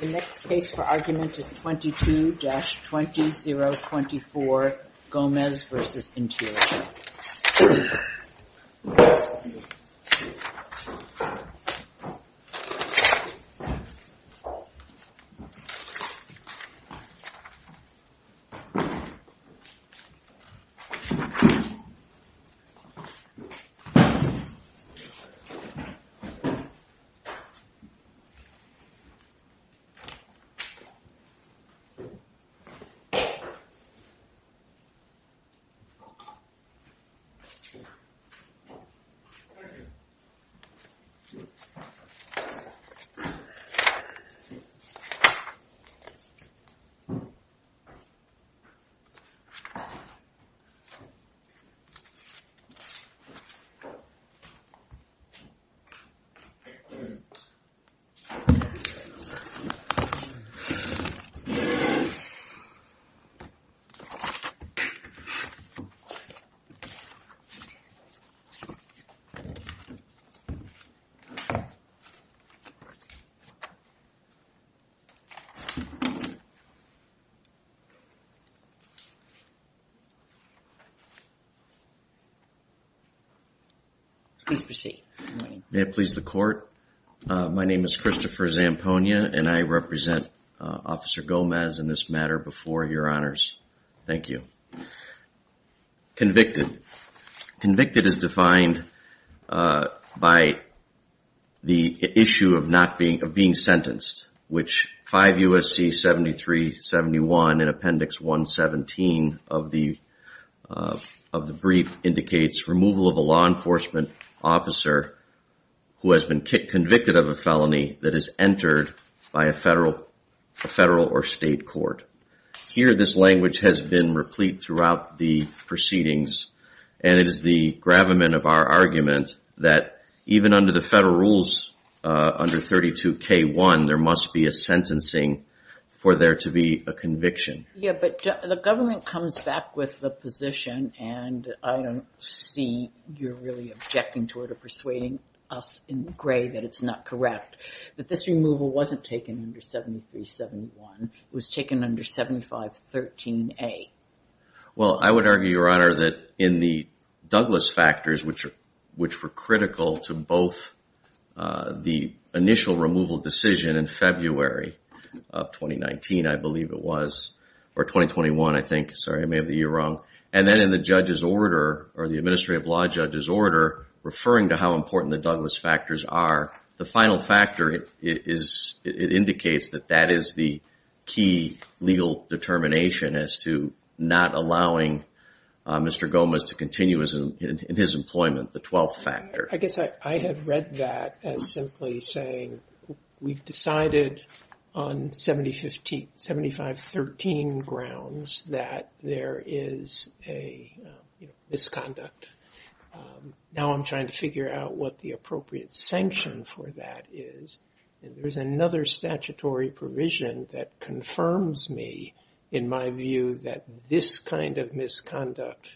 The next case for argument is 22-20024, Gomez v. Interior. The next case for argument is 22-20024, Gomez v. Interior. May it please the court, my name is Christopher Zampogna, and I would like to ask you to represent Officer Gomez in this matter before your honors. Thank you. Convicted. Convicted is defined by the issue of being sentenced, which 5 U.S.C. 7371 in Appendix 117 of the brief indicates removal of a law enforcement officer who has been convicted of a felony that is entered by a federal or state court. Here this language has been replete throughout the proceedings, and it is the gravamen of our argument that even under the federal rules, under 32K1, there must be a sentencing for there to be a conviction. Yeah, but the government comes back with the position, and I don't see you're really objecting to it or persuading us in gray that it's not correct, that this removal wasn't taken under 7371, it was taken under 7513A. Well I would argue, your honor, that in the Douglas factors, which were critical to both the initial removal decision in February of 2019, I believe it was, or 2021 I think, sorry I may have the year wrong, and then in the judge's order, or the administrative law judge's order referring to how important the Douglas factors are, the final factor is, it indicates that that is the key legal determination as to not allowing Mr. Gomez to continue in his employment, the 12th factor. I guess I had read that as simply saying, we've decided on 7513 grounds that there is a misconduct. Now I'm trying to figure out what the appropriate sanction for that is, and there's another statutory provision that confirms me, in my view, that this kind of misconduct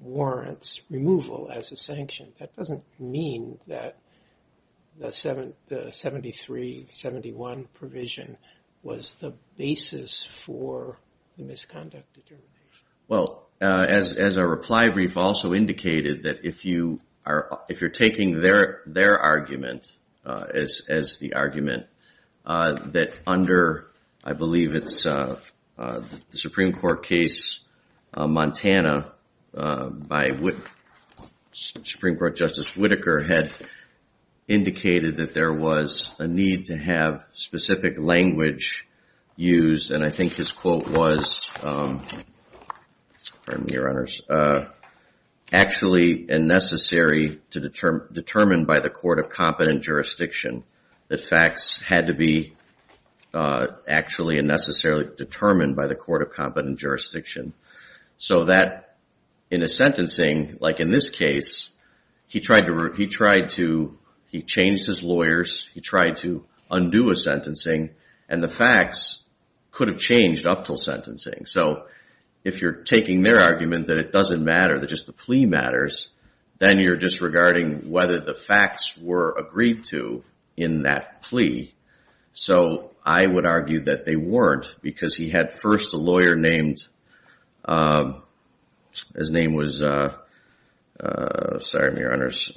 warrants removal as a sanction. That doesn't mean that the 7371 provision was the basis for the misconduct determination. Well, as our reply brief also indicated, that if you are taking their argument as the argument, that under, I believe it's the Supreme Court case Montana, by Supreme Court Justice Whitaker had indicated that there was a need to have specific language used, and I think his quote was, pardon me your honors, actually and necessary to determine by the court of competent jurisdiction that facts had to be actually and necessarily determined by the court of competent jurisdiction. So that in a sentencing, like in this case, he tried to, he changed his lawyers, he tried to undo a sentencing, and the facts could have changed up till sentencing. So if you're taking their argument that it doesn't matter, that just the plea matters, then you're disregarding whether the facts were agreed to in that plea. So I would argue that they weren't because he had first a lawyer named, his name was, sorry your honors,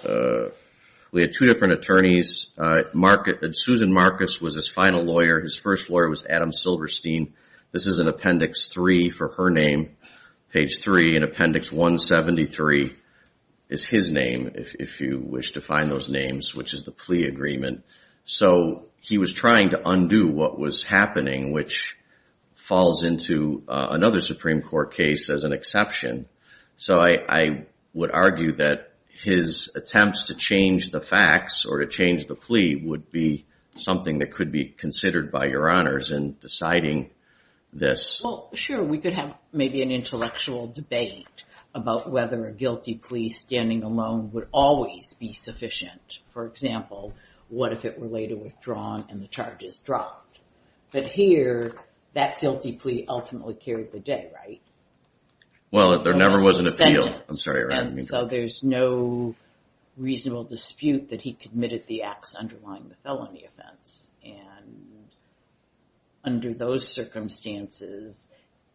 we had two different attorneys, Susan Marcus was his final lawyer, his first lawyer was Adam Silverstein, this is in appendix three for her name, page three in appendix 173 is his name, if you wish to find those falls into another Supreme Court case as an exception. So I would argue that his attempts to change the facts or to change the plea would be something that could be considered by your honors in deciding this. Well sure, we could have maybe an intellectual debate about whether a guilty plea standing alone would always be sufficient. For example, what if it were later withdrawn and the charges dropped? But here, that guilty plea ultimately carried the day, right? Well, there never was an appeal, I'm sorry. And so there's no reasonable dispute that he committed the acts underlying the felony offense, and under those circumstances,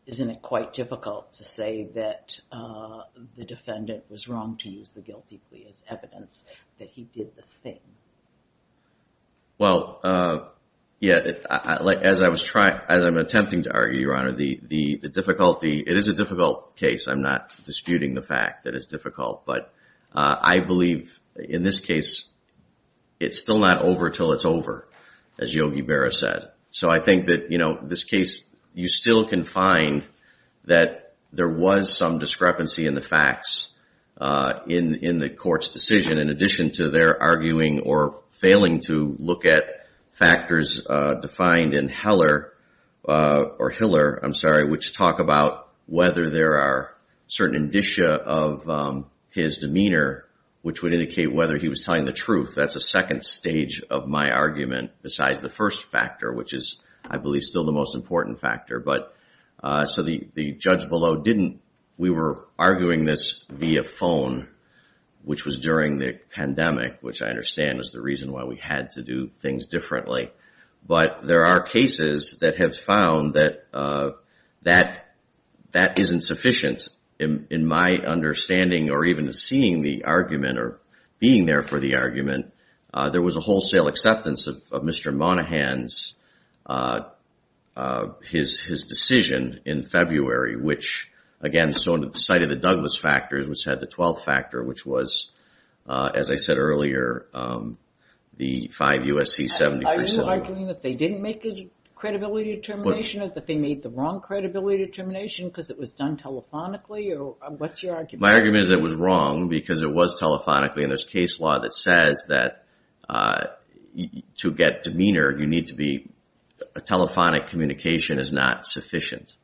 isn't it quite difficult to say that the defendant was wrong to use the guilty plea as evidence that he did the thing? Well, yeah, as I was trying, as I'm attempting to argue, your honor, the difficulty, it is a difficult case, I'm not disputing the fact that it's difficult, but I believe in this case, it's still not over until it's over, as Yogi Berra said. So I think that, you know, this case, you still can find that there was some discrepancy in the facts in the court's decision, in addition to their arguing or failing to look at factors defined in Heller, or Hiller, I'm sorry, which talk about whether there are certain indicia of his demeanor, which would indicate whether he was telling the truth. That's a second stage of my argument besides the first factor, which is, I believe, still the most important factor. But so the judge below didn't, we were arguing this via phone, which was during the pandemic, which I understand is the reason why we had to do things differently. But there are cases that have found that that isn't sufficient. In my understanding, or even seeing the argument, or being there for the argument, there was a wholesale acceptance of Mr. Monahan's decision in February, which, again, so on the side of the Douglas factors, which had the 12th factor, which was, as I said earlier, the 5 U.S.C. 73 settlement. Are you arguing that they didn't make a credibility determination, or that they made the wrong credibility determination because it was done telephonically? What's your argument? My argument is it was wrong because it was telephonically, and there's case law that says that to get demeanor, you need to be, a telephonic communication is not sufficient.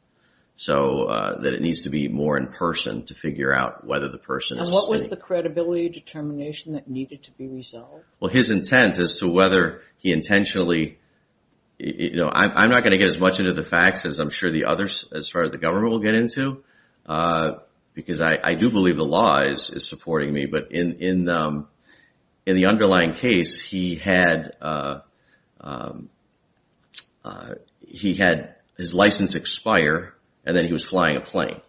So that it needs to be more in person to figure out whether the person is safe. And what was the credibility determination that needed to be resolved? Well, his intent as to whether he intentionally, you know, I'm not going to get as much into the facts as I'm sure the others as far as the government will get into, because I do believe the law is supporting me. But in the underlying case, he had his license expire, and then he was flying a plane.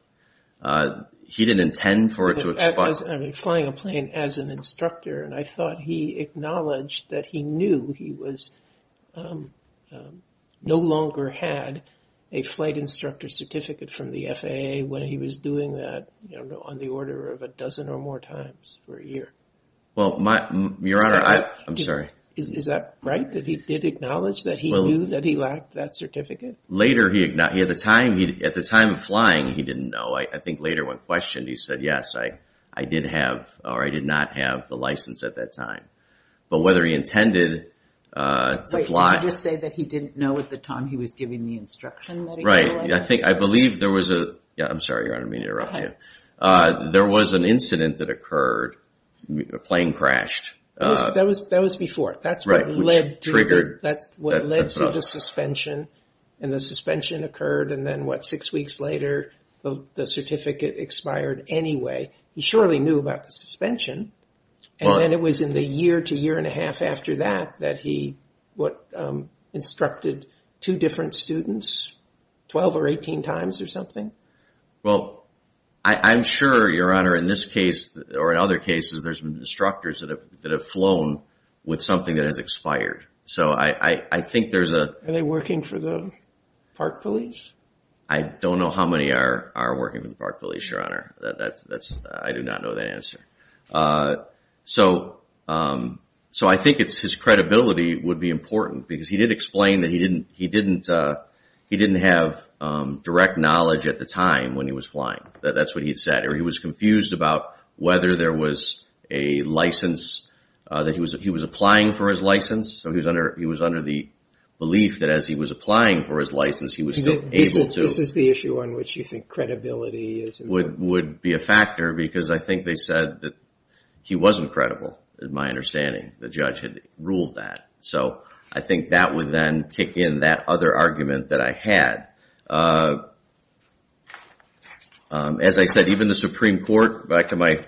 He didn't intend for it to expire. Flying a plane as an instructor, and I thought he acknowledged that he knew he was no longer had a flight instructor certificate from the FAA when he was doing that on the order of a dozen or more times for a year. Well, Your Honor, I'm sorry. Is that right, that he did acknowledge that he knew that he lacked that certificate? Later, at the time of flying, he didn't know. I think later when questioned, he said, yes, I did have, or I did not have the license at that time. But whether he intended to fly... Wait, did he just say that he didn't know at the time he was giving the instruction that he had? Right. I think, I believe there was a... Yeah, I'm sorry, Your Honor, I didn't mean to interrupt you. Go ahead. There was an incident that occurred. A plane crashed. That was before. Right, which triggered... That's what led to the suspension. And the suspension occurred, and then what, six weeks later, the certificate expired anyway. He surely knew about the suspension, and then it was in the year to year and a half after that that he instructed two different students, 12 or 18 times or something? Well, I'm sure, Your Honor, in this case, or in other cases, there's been instructors that have flown with something that has expired. So, I think there's a... Are they working for the Park Police? I don't know how many are working for the Park Police, Your Honor. I do not know that answer. So, I think his credibility would be important, because he did explain that he didn't have direct knowledge at the time when he was flying. That's what he had said. Or he was confused about whether there was a license, that he was applying for his license. So, he was under the belief that as he was applying for his license, he was still able to... This is the issue on which you think credibility is important? Would be a factor, because I think they said that he wasn't credible, is my understanding. The judge had ruled that. So, I think that would then kick in that other argument that I had. As I said, even the Supreme Court, back to my...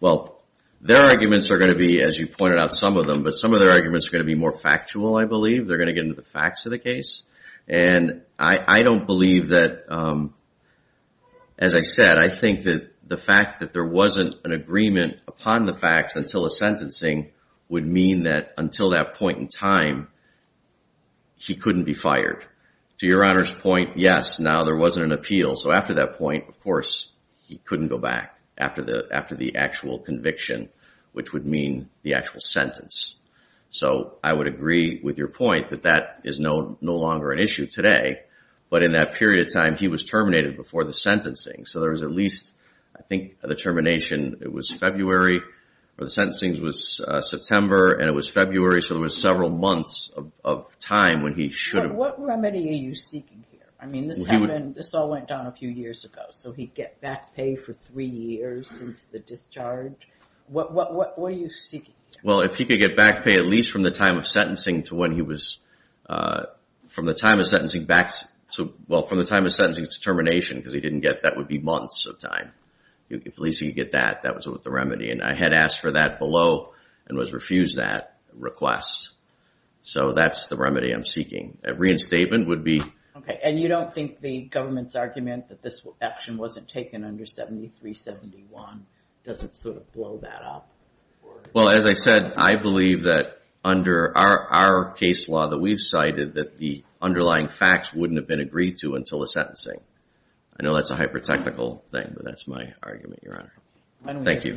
Well, their arguments are going to be, as you pointed out, some of them, but some of their arguments are going to be more factual, I believe. They're going to get into the facts of the case. And I don't believe that... As I said, I think that the fact that there wasn't an agreement upon the facts until the sentencing would mean that until that point in time, he couldn't be fired. To Your Honor's point, yes, now there wasn't an appeal. So, after that point, of course, he couldn't go back after the actual conviction, which would mean the actual sentence. So, I would agree with your point that that is no longer an issue today. But in that period of time, he was terminated before the sentencing. So, there was at least, I think, the termination, it was February. The sentencing was September, and it was February. So, there was several months of time when he should have... What remedy are you seeking here? I mean, this all went down a few years ago. So, he'd get back pay for three years since the discharge. What were you seeking? Well, if he could get back pay at least from the time of sentencing to when he was... From the time of sentencing back to... Well, from the time of sentencing to termination, because he didn't get... That would be months of time. If at least he could get that, that was the remedy. And I had asked for that below and was refused that request. So, that's the remedy I'm seeking. A reinstatement would be... Okay. And you don't think the government's argument that this action wasn't taken under 7371 doesn't sort of blow that up? Well, as I said, I believe that under our case law that we've cited that the underlying facts wouldn't have been agreed to until the sentencing. I know that's a hyper-technical thing, but that's my argument, Your Honor. Thank you.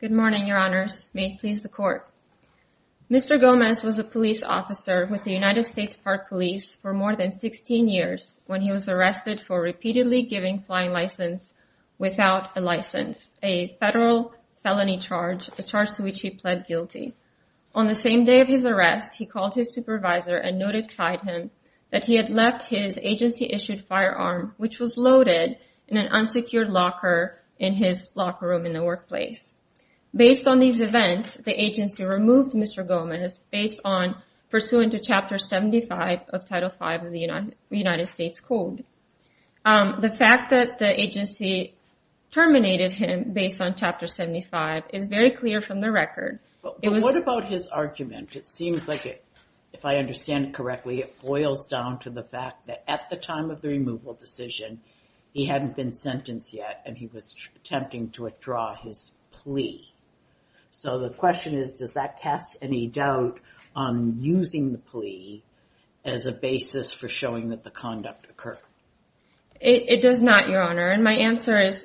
Good morning, Your Honors. May it please the Court. Mr. Gomez was a police officer with the United States Park Police for more than 16 years when he was arrested for repeatedly giving flying license without a license, a federal felony charge, a charge to which he pled guilty. On the same day of his arrest, he called his supervisor and noted client him that he had lied to him and left his agency-issued firearm, which was loaded in an unsecured locker in his locker room in the workplace. Based on these events, the agency removed Mr. Gomez based on pursuant to Chapter 75 of Title V of the United States Code. The fact that the agency terminated him based on Chapter 75 is very clear from the record. But what about his argument? It seems like, if I understand it correctly, it boils down to the fact that at the time of the removal decision, he hadn't been sentenced yet and he was attempting to withdraw his plea. So the question is, does that cast any doubt on using the plea as a basis for showing that the conduct occurred? It does not, Your Honor. And my answer is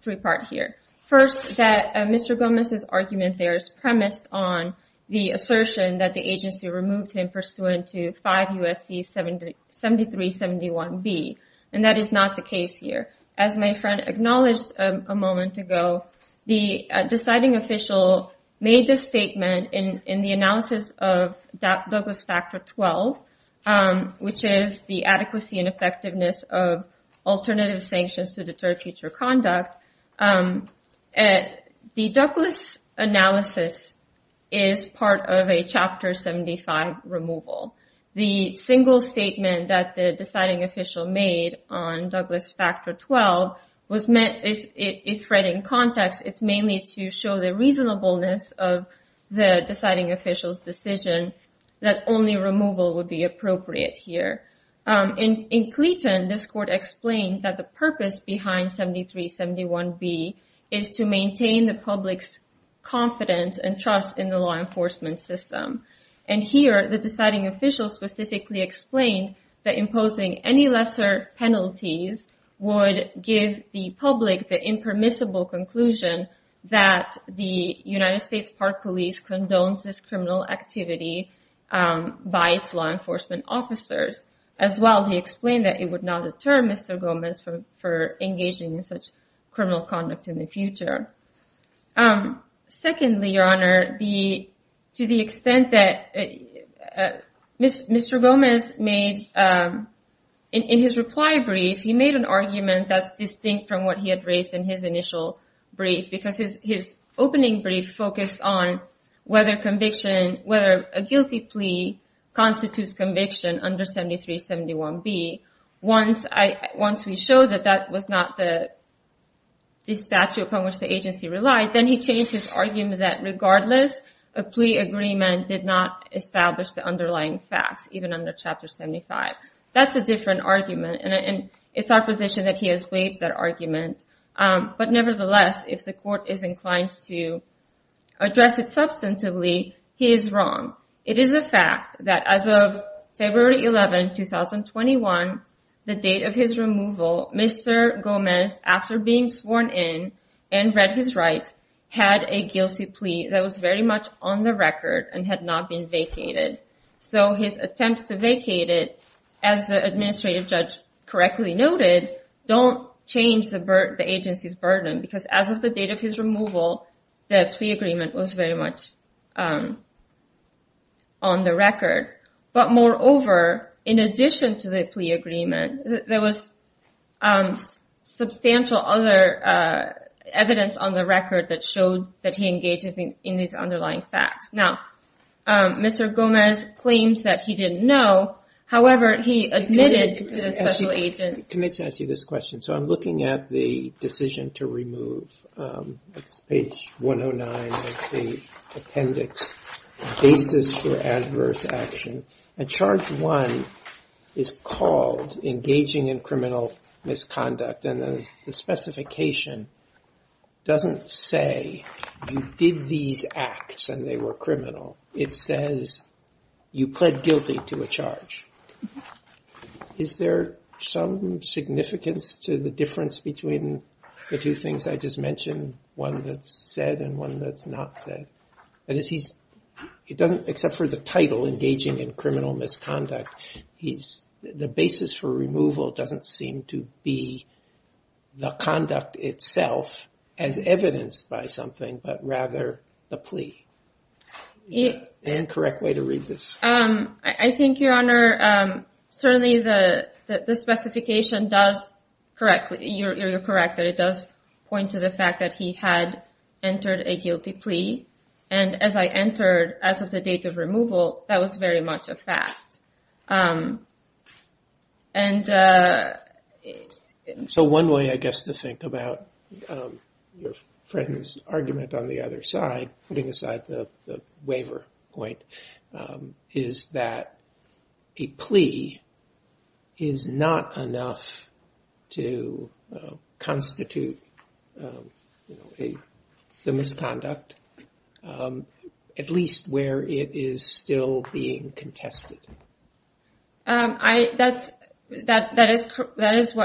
three-part here. First, that Mr. Gomez's argument there is premised on the assertion that the agency removed him pursuant to 5 U.S.C. 7371B. And that is not the case here. As my friend acknowledged a moment ago, the deciding official made this statement in the analysis of Douglas Factor 12, which is the adequacy and effectiveness of alternative sanctions to deter future conduct. The Douglas analysis is part of a Chapter 75 removal. The single statement that the deciding official made on Douglas Factor 12 was meant, if read in context, it's mainly to show the reasonableness of the deciding official's decision that only removal would be appropriate here. In Cleeton, this court explained that the purpose behind 7371B is to maintain the public's confidence and trust in the law enforcement system. And here, the deciding official specifically explained that imposing any lesser penalties would give the public the impermissible conclusion that the United States Park Police condones this criminal activity by its law enforcement officers. As well, he explained that it would not deter Mr. Gomez from engaging in such criminal conduct in the future. Secondly, Your Honor, to the extent that Mr. Gomez made in his reply brief, he made an argument that's distinct from what he had raised in his initial brief, because his opening brief focused on whether a guilty plea constitutes conviction under 7371B. Once we showed that that was not the statute upon which the agency relied, then he changed his argument that regardless a plea agreement did not establish the underlying facts even under Chapter 75. That's a different argument, and it's our position that he has waived that argument. But nevertheless, if the court is inclined to address it substantively, he is wrong. It is a fact that as of February 11, 2021, the date of his removal, Mr. Gomez, after being sworn in and read his rights, had a guilty plea that was very much on the record and had not been vacated. His attempts to vacate it, as the administrative judge correctly noted, don't change the agency's burden, because as of the date of his removal, the plea agreement was very much on the record. But moreover, in addition to the plea agreement, there was substantial other evidence on the record that showed that he engaged in these underlying facts. Mr. Gomez claims that he didn't know. However, he admitted to the special agent... Let me ask you this question. I'm looking at the decision to remove page 109 of the appendix cases for adverse action. And charge 1 is called engaging in criminal misconduct and the specification doesn't say you did these acts and they were criminal. It says you pled guilty to a charge. Is there some significance to the difference between the two things I just mentioned? One that's said and one that's not said? Except for the title, engaging in criminal misconduct, the basis for removal doesn't seem to be the conduct itself as evidenced by something, but rather the plea. Is that an incorrect way to read this? I think, Your Honor, certainly the specification does correct. You're correct that it does point to the fact that he had entered a guilty plea and as I entered, as of the date of removal, that was very much a fact. So one way, I guess, to think about your friend's argument on the other side, putting aside the waiver point, is that a plea is not enough to constitute a misconduct at least where it is still being contested. what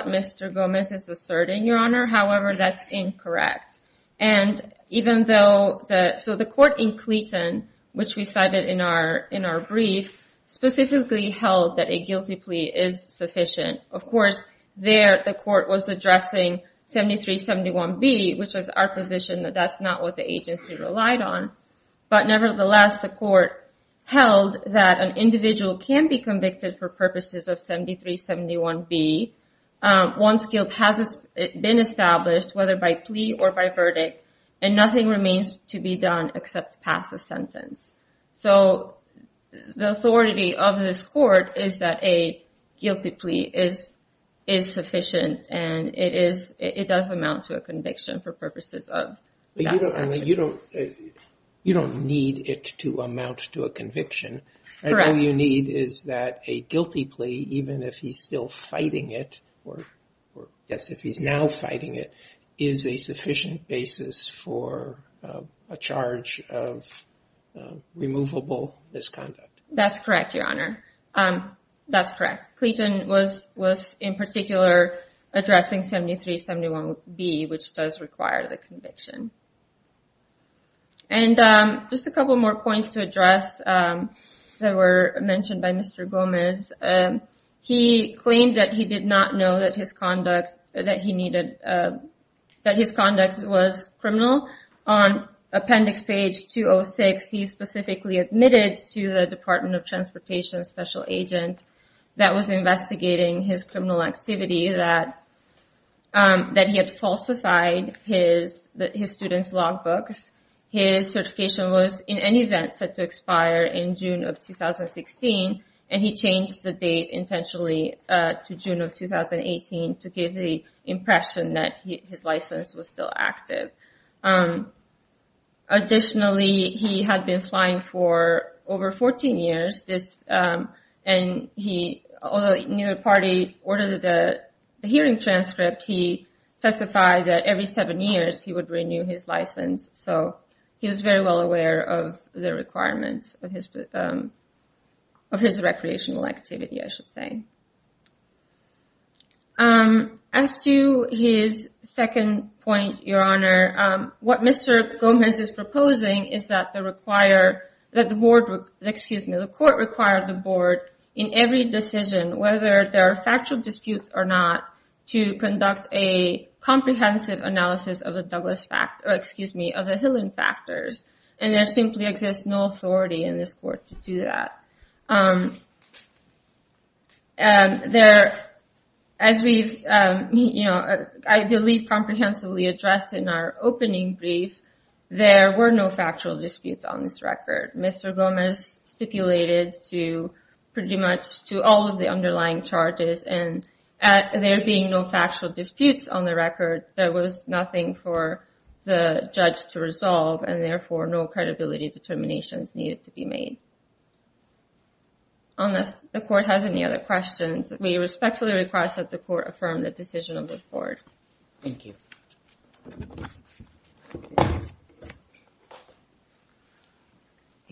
Mr. Gomez is asserting, Your Honor. However, that's incorrect. And even though the court in Cleton, which we cited in our brief, specifically held that a guilty plea is sufficient. Of course, there the court was addressing 7371B which was our position that that's not what the agency relied on. But nevertheless, the court held that an individual can be convicted for purposes of 7371B once guilt has been established, whether by plea or by verdict, and nothing remains to be done except to pass a sentence. So the authority of this court is that a guilty plea is sufficient and it does amount to a conviction for purposes of that section. You don't need it to amount to a conviction. All you need is that a guilty plea even if he's still fighting it or yes, if he's now fighting it, is a sufficient basis for a charge of removable misconduct. That's correct, Your Honor. That's correct. Clayton was in particular addressing 7371B which does require the conviction. And just a couple more points to address that were mentioned by Mr. Gomez. He claimed that he did not know that his conduct that he needed that his conduct was criminal. On appendix page 206 he specifically admitted to the Department of Transportation special agent that was investigating his criminal activity that he had falsified his student's log books. His certification was in any event set to expire in June of 2016 and he changed the date intentionally to June of 2018 to give the impression that his license was still active. Additionally he had been flying for over 14 years and he ordered a hearing transcript he testified that every seven years he would renew his license. He was very well aware of the requirements of his recreational activity, I should say. As to his second point, Your Honor, what Mr. Gomez is proposing is that the court required the board in every decision, whether there are factual disputes or not, to conduct a comprehensive analysis of the Douglas factors, or excuse me of the Hillen factors. There simply exists no authority in this court to do that. I believe comprehensively addressed in our opening brief, there were no factual disputes on this record. Mr. Gomez stipulated to pretty much to all of the underlying charges and there being no factual disputes on the record, there was nothing for the judge to resolve and therefore no credibility determinations needed to be made. Unless the court has any other questions we respectfully request that the court affirm the decision of the board. Thank you. I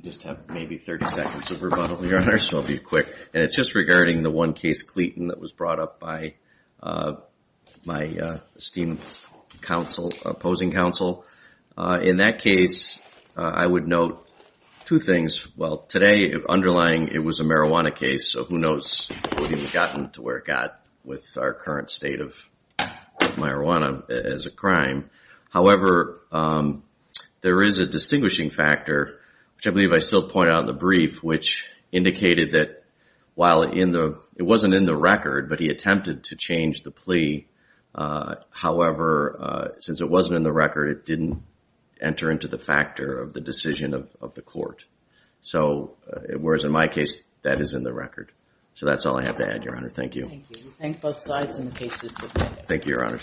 just have maybe 30 seconds of rebuttal Your Honor, so I'll be quick. It's just regarding the one case, Cleton, that was brought up by my esteemed opposing counsel. In that case, I would note two things. Today, underlying, it was a marijuana case so who knows what he would have gotten to where it got with our current state of marijuana as a crime. However, there is a distinguishing factor, which I believe I still pointed out in the brief, which indicated that while it wasn't in the record, but he attempted to change the plea however, since it wasn't in the record, it didn't enter into the factor of the decision of the court. Whereas in my case, that is in the record. So that's all I have to add, Your Honor. Thank you. Thank you, Your Honor.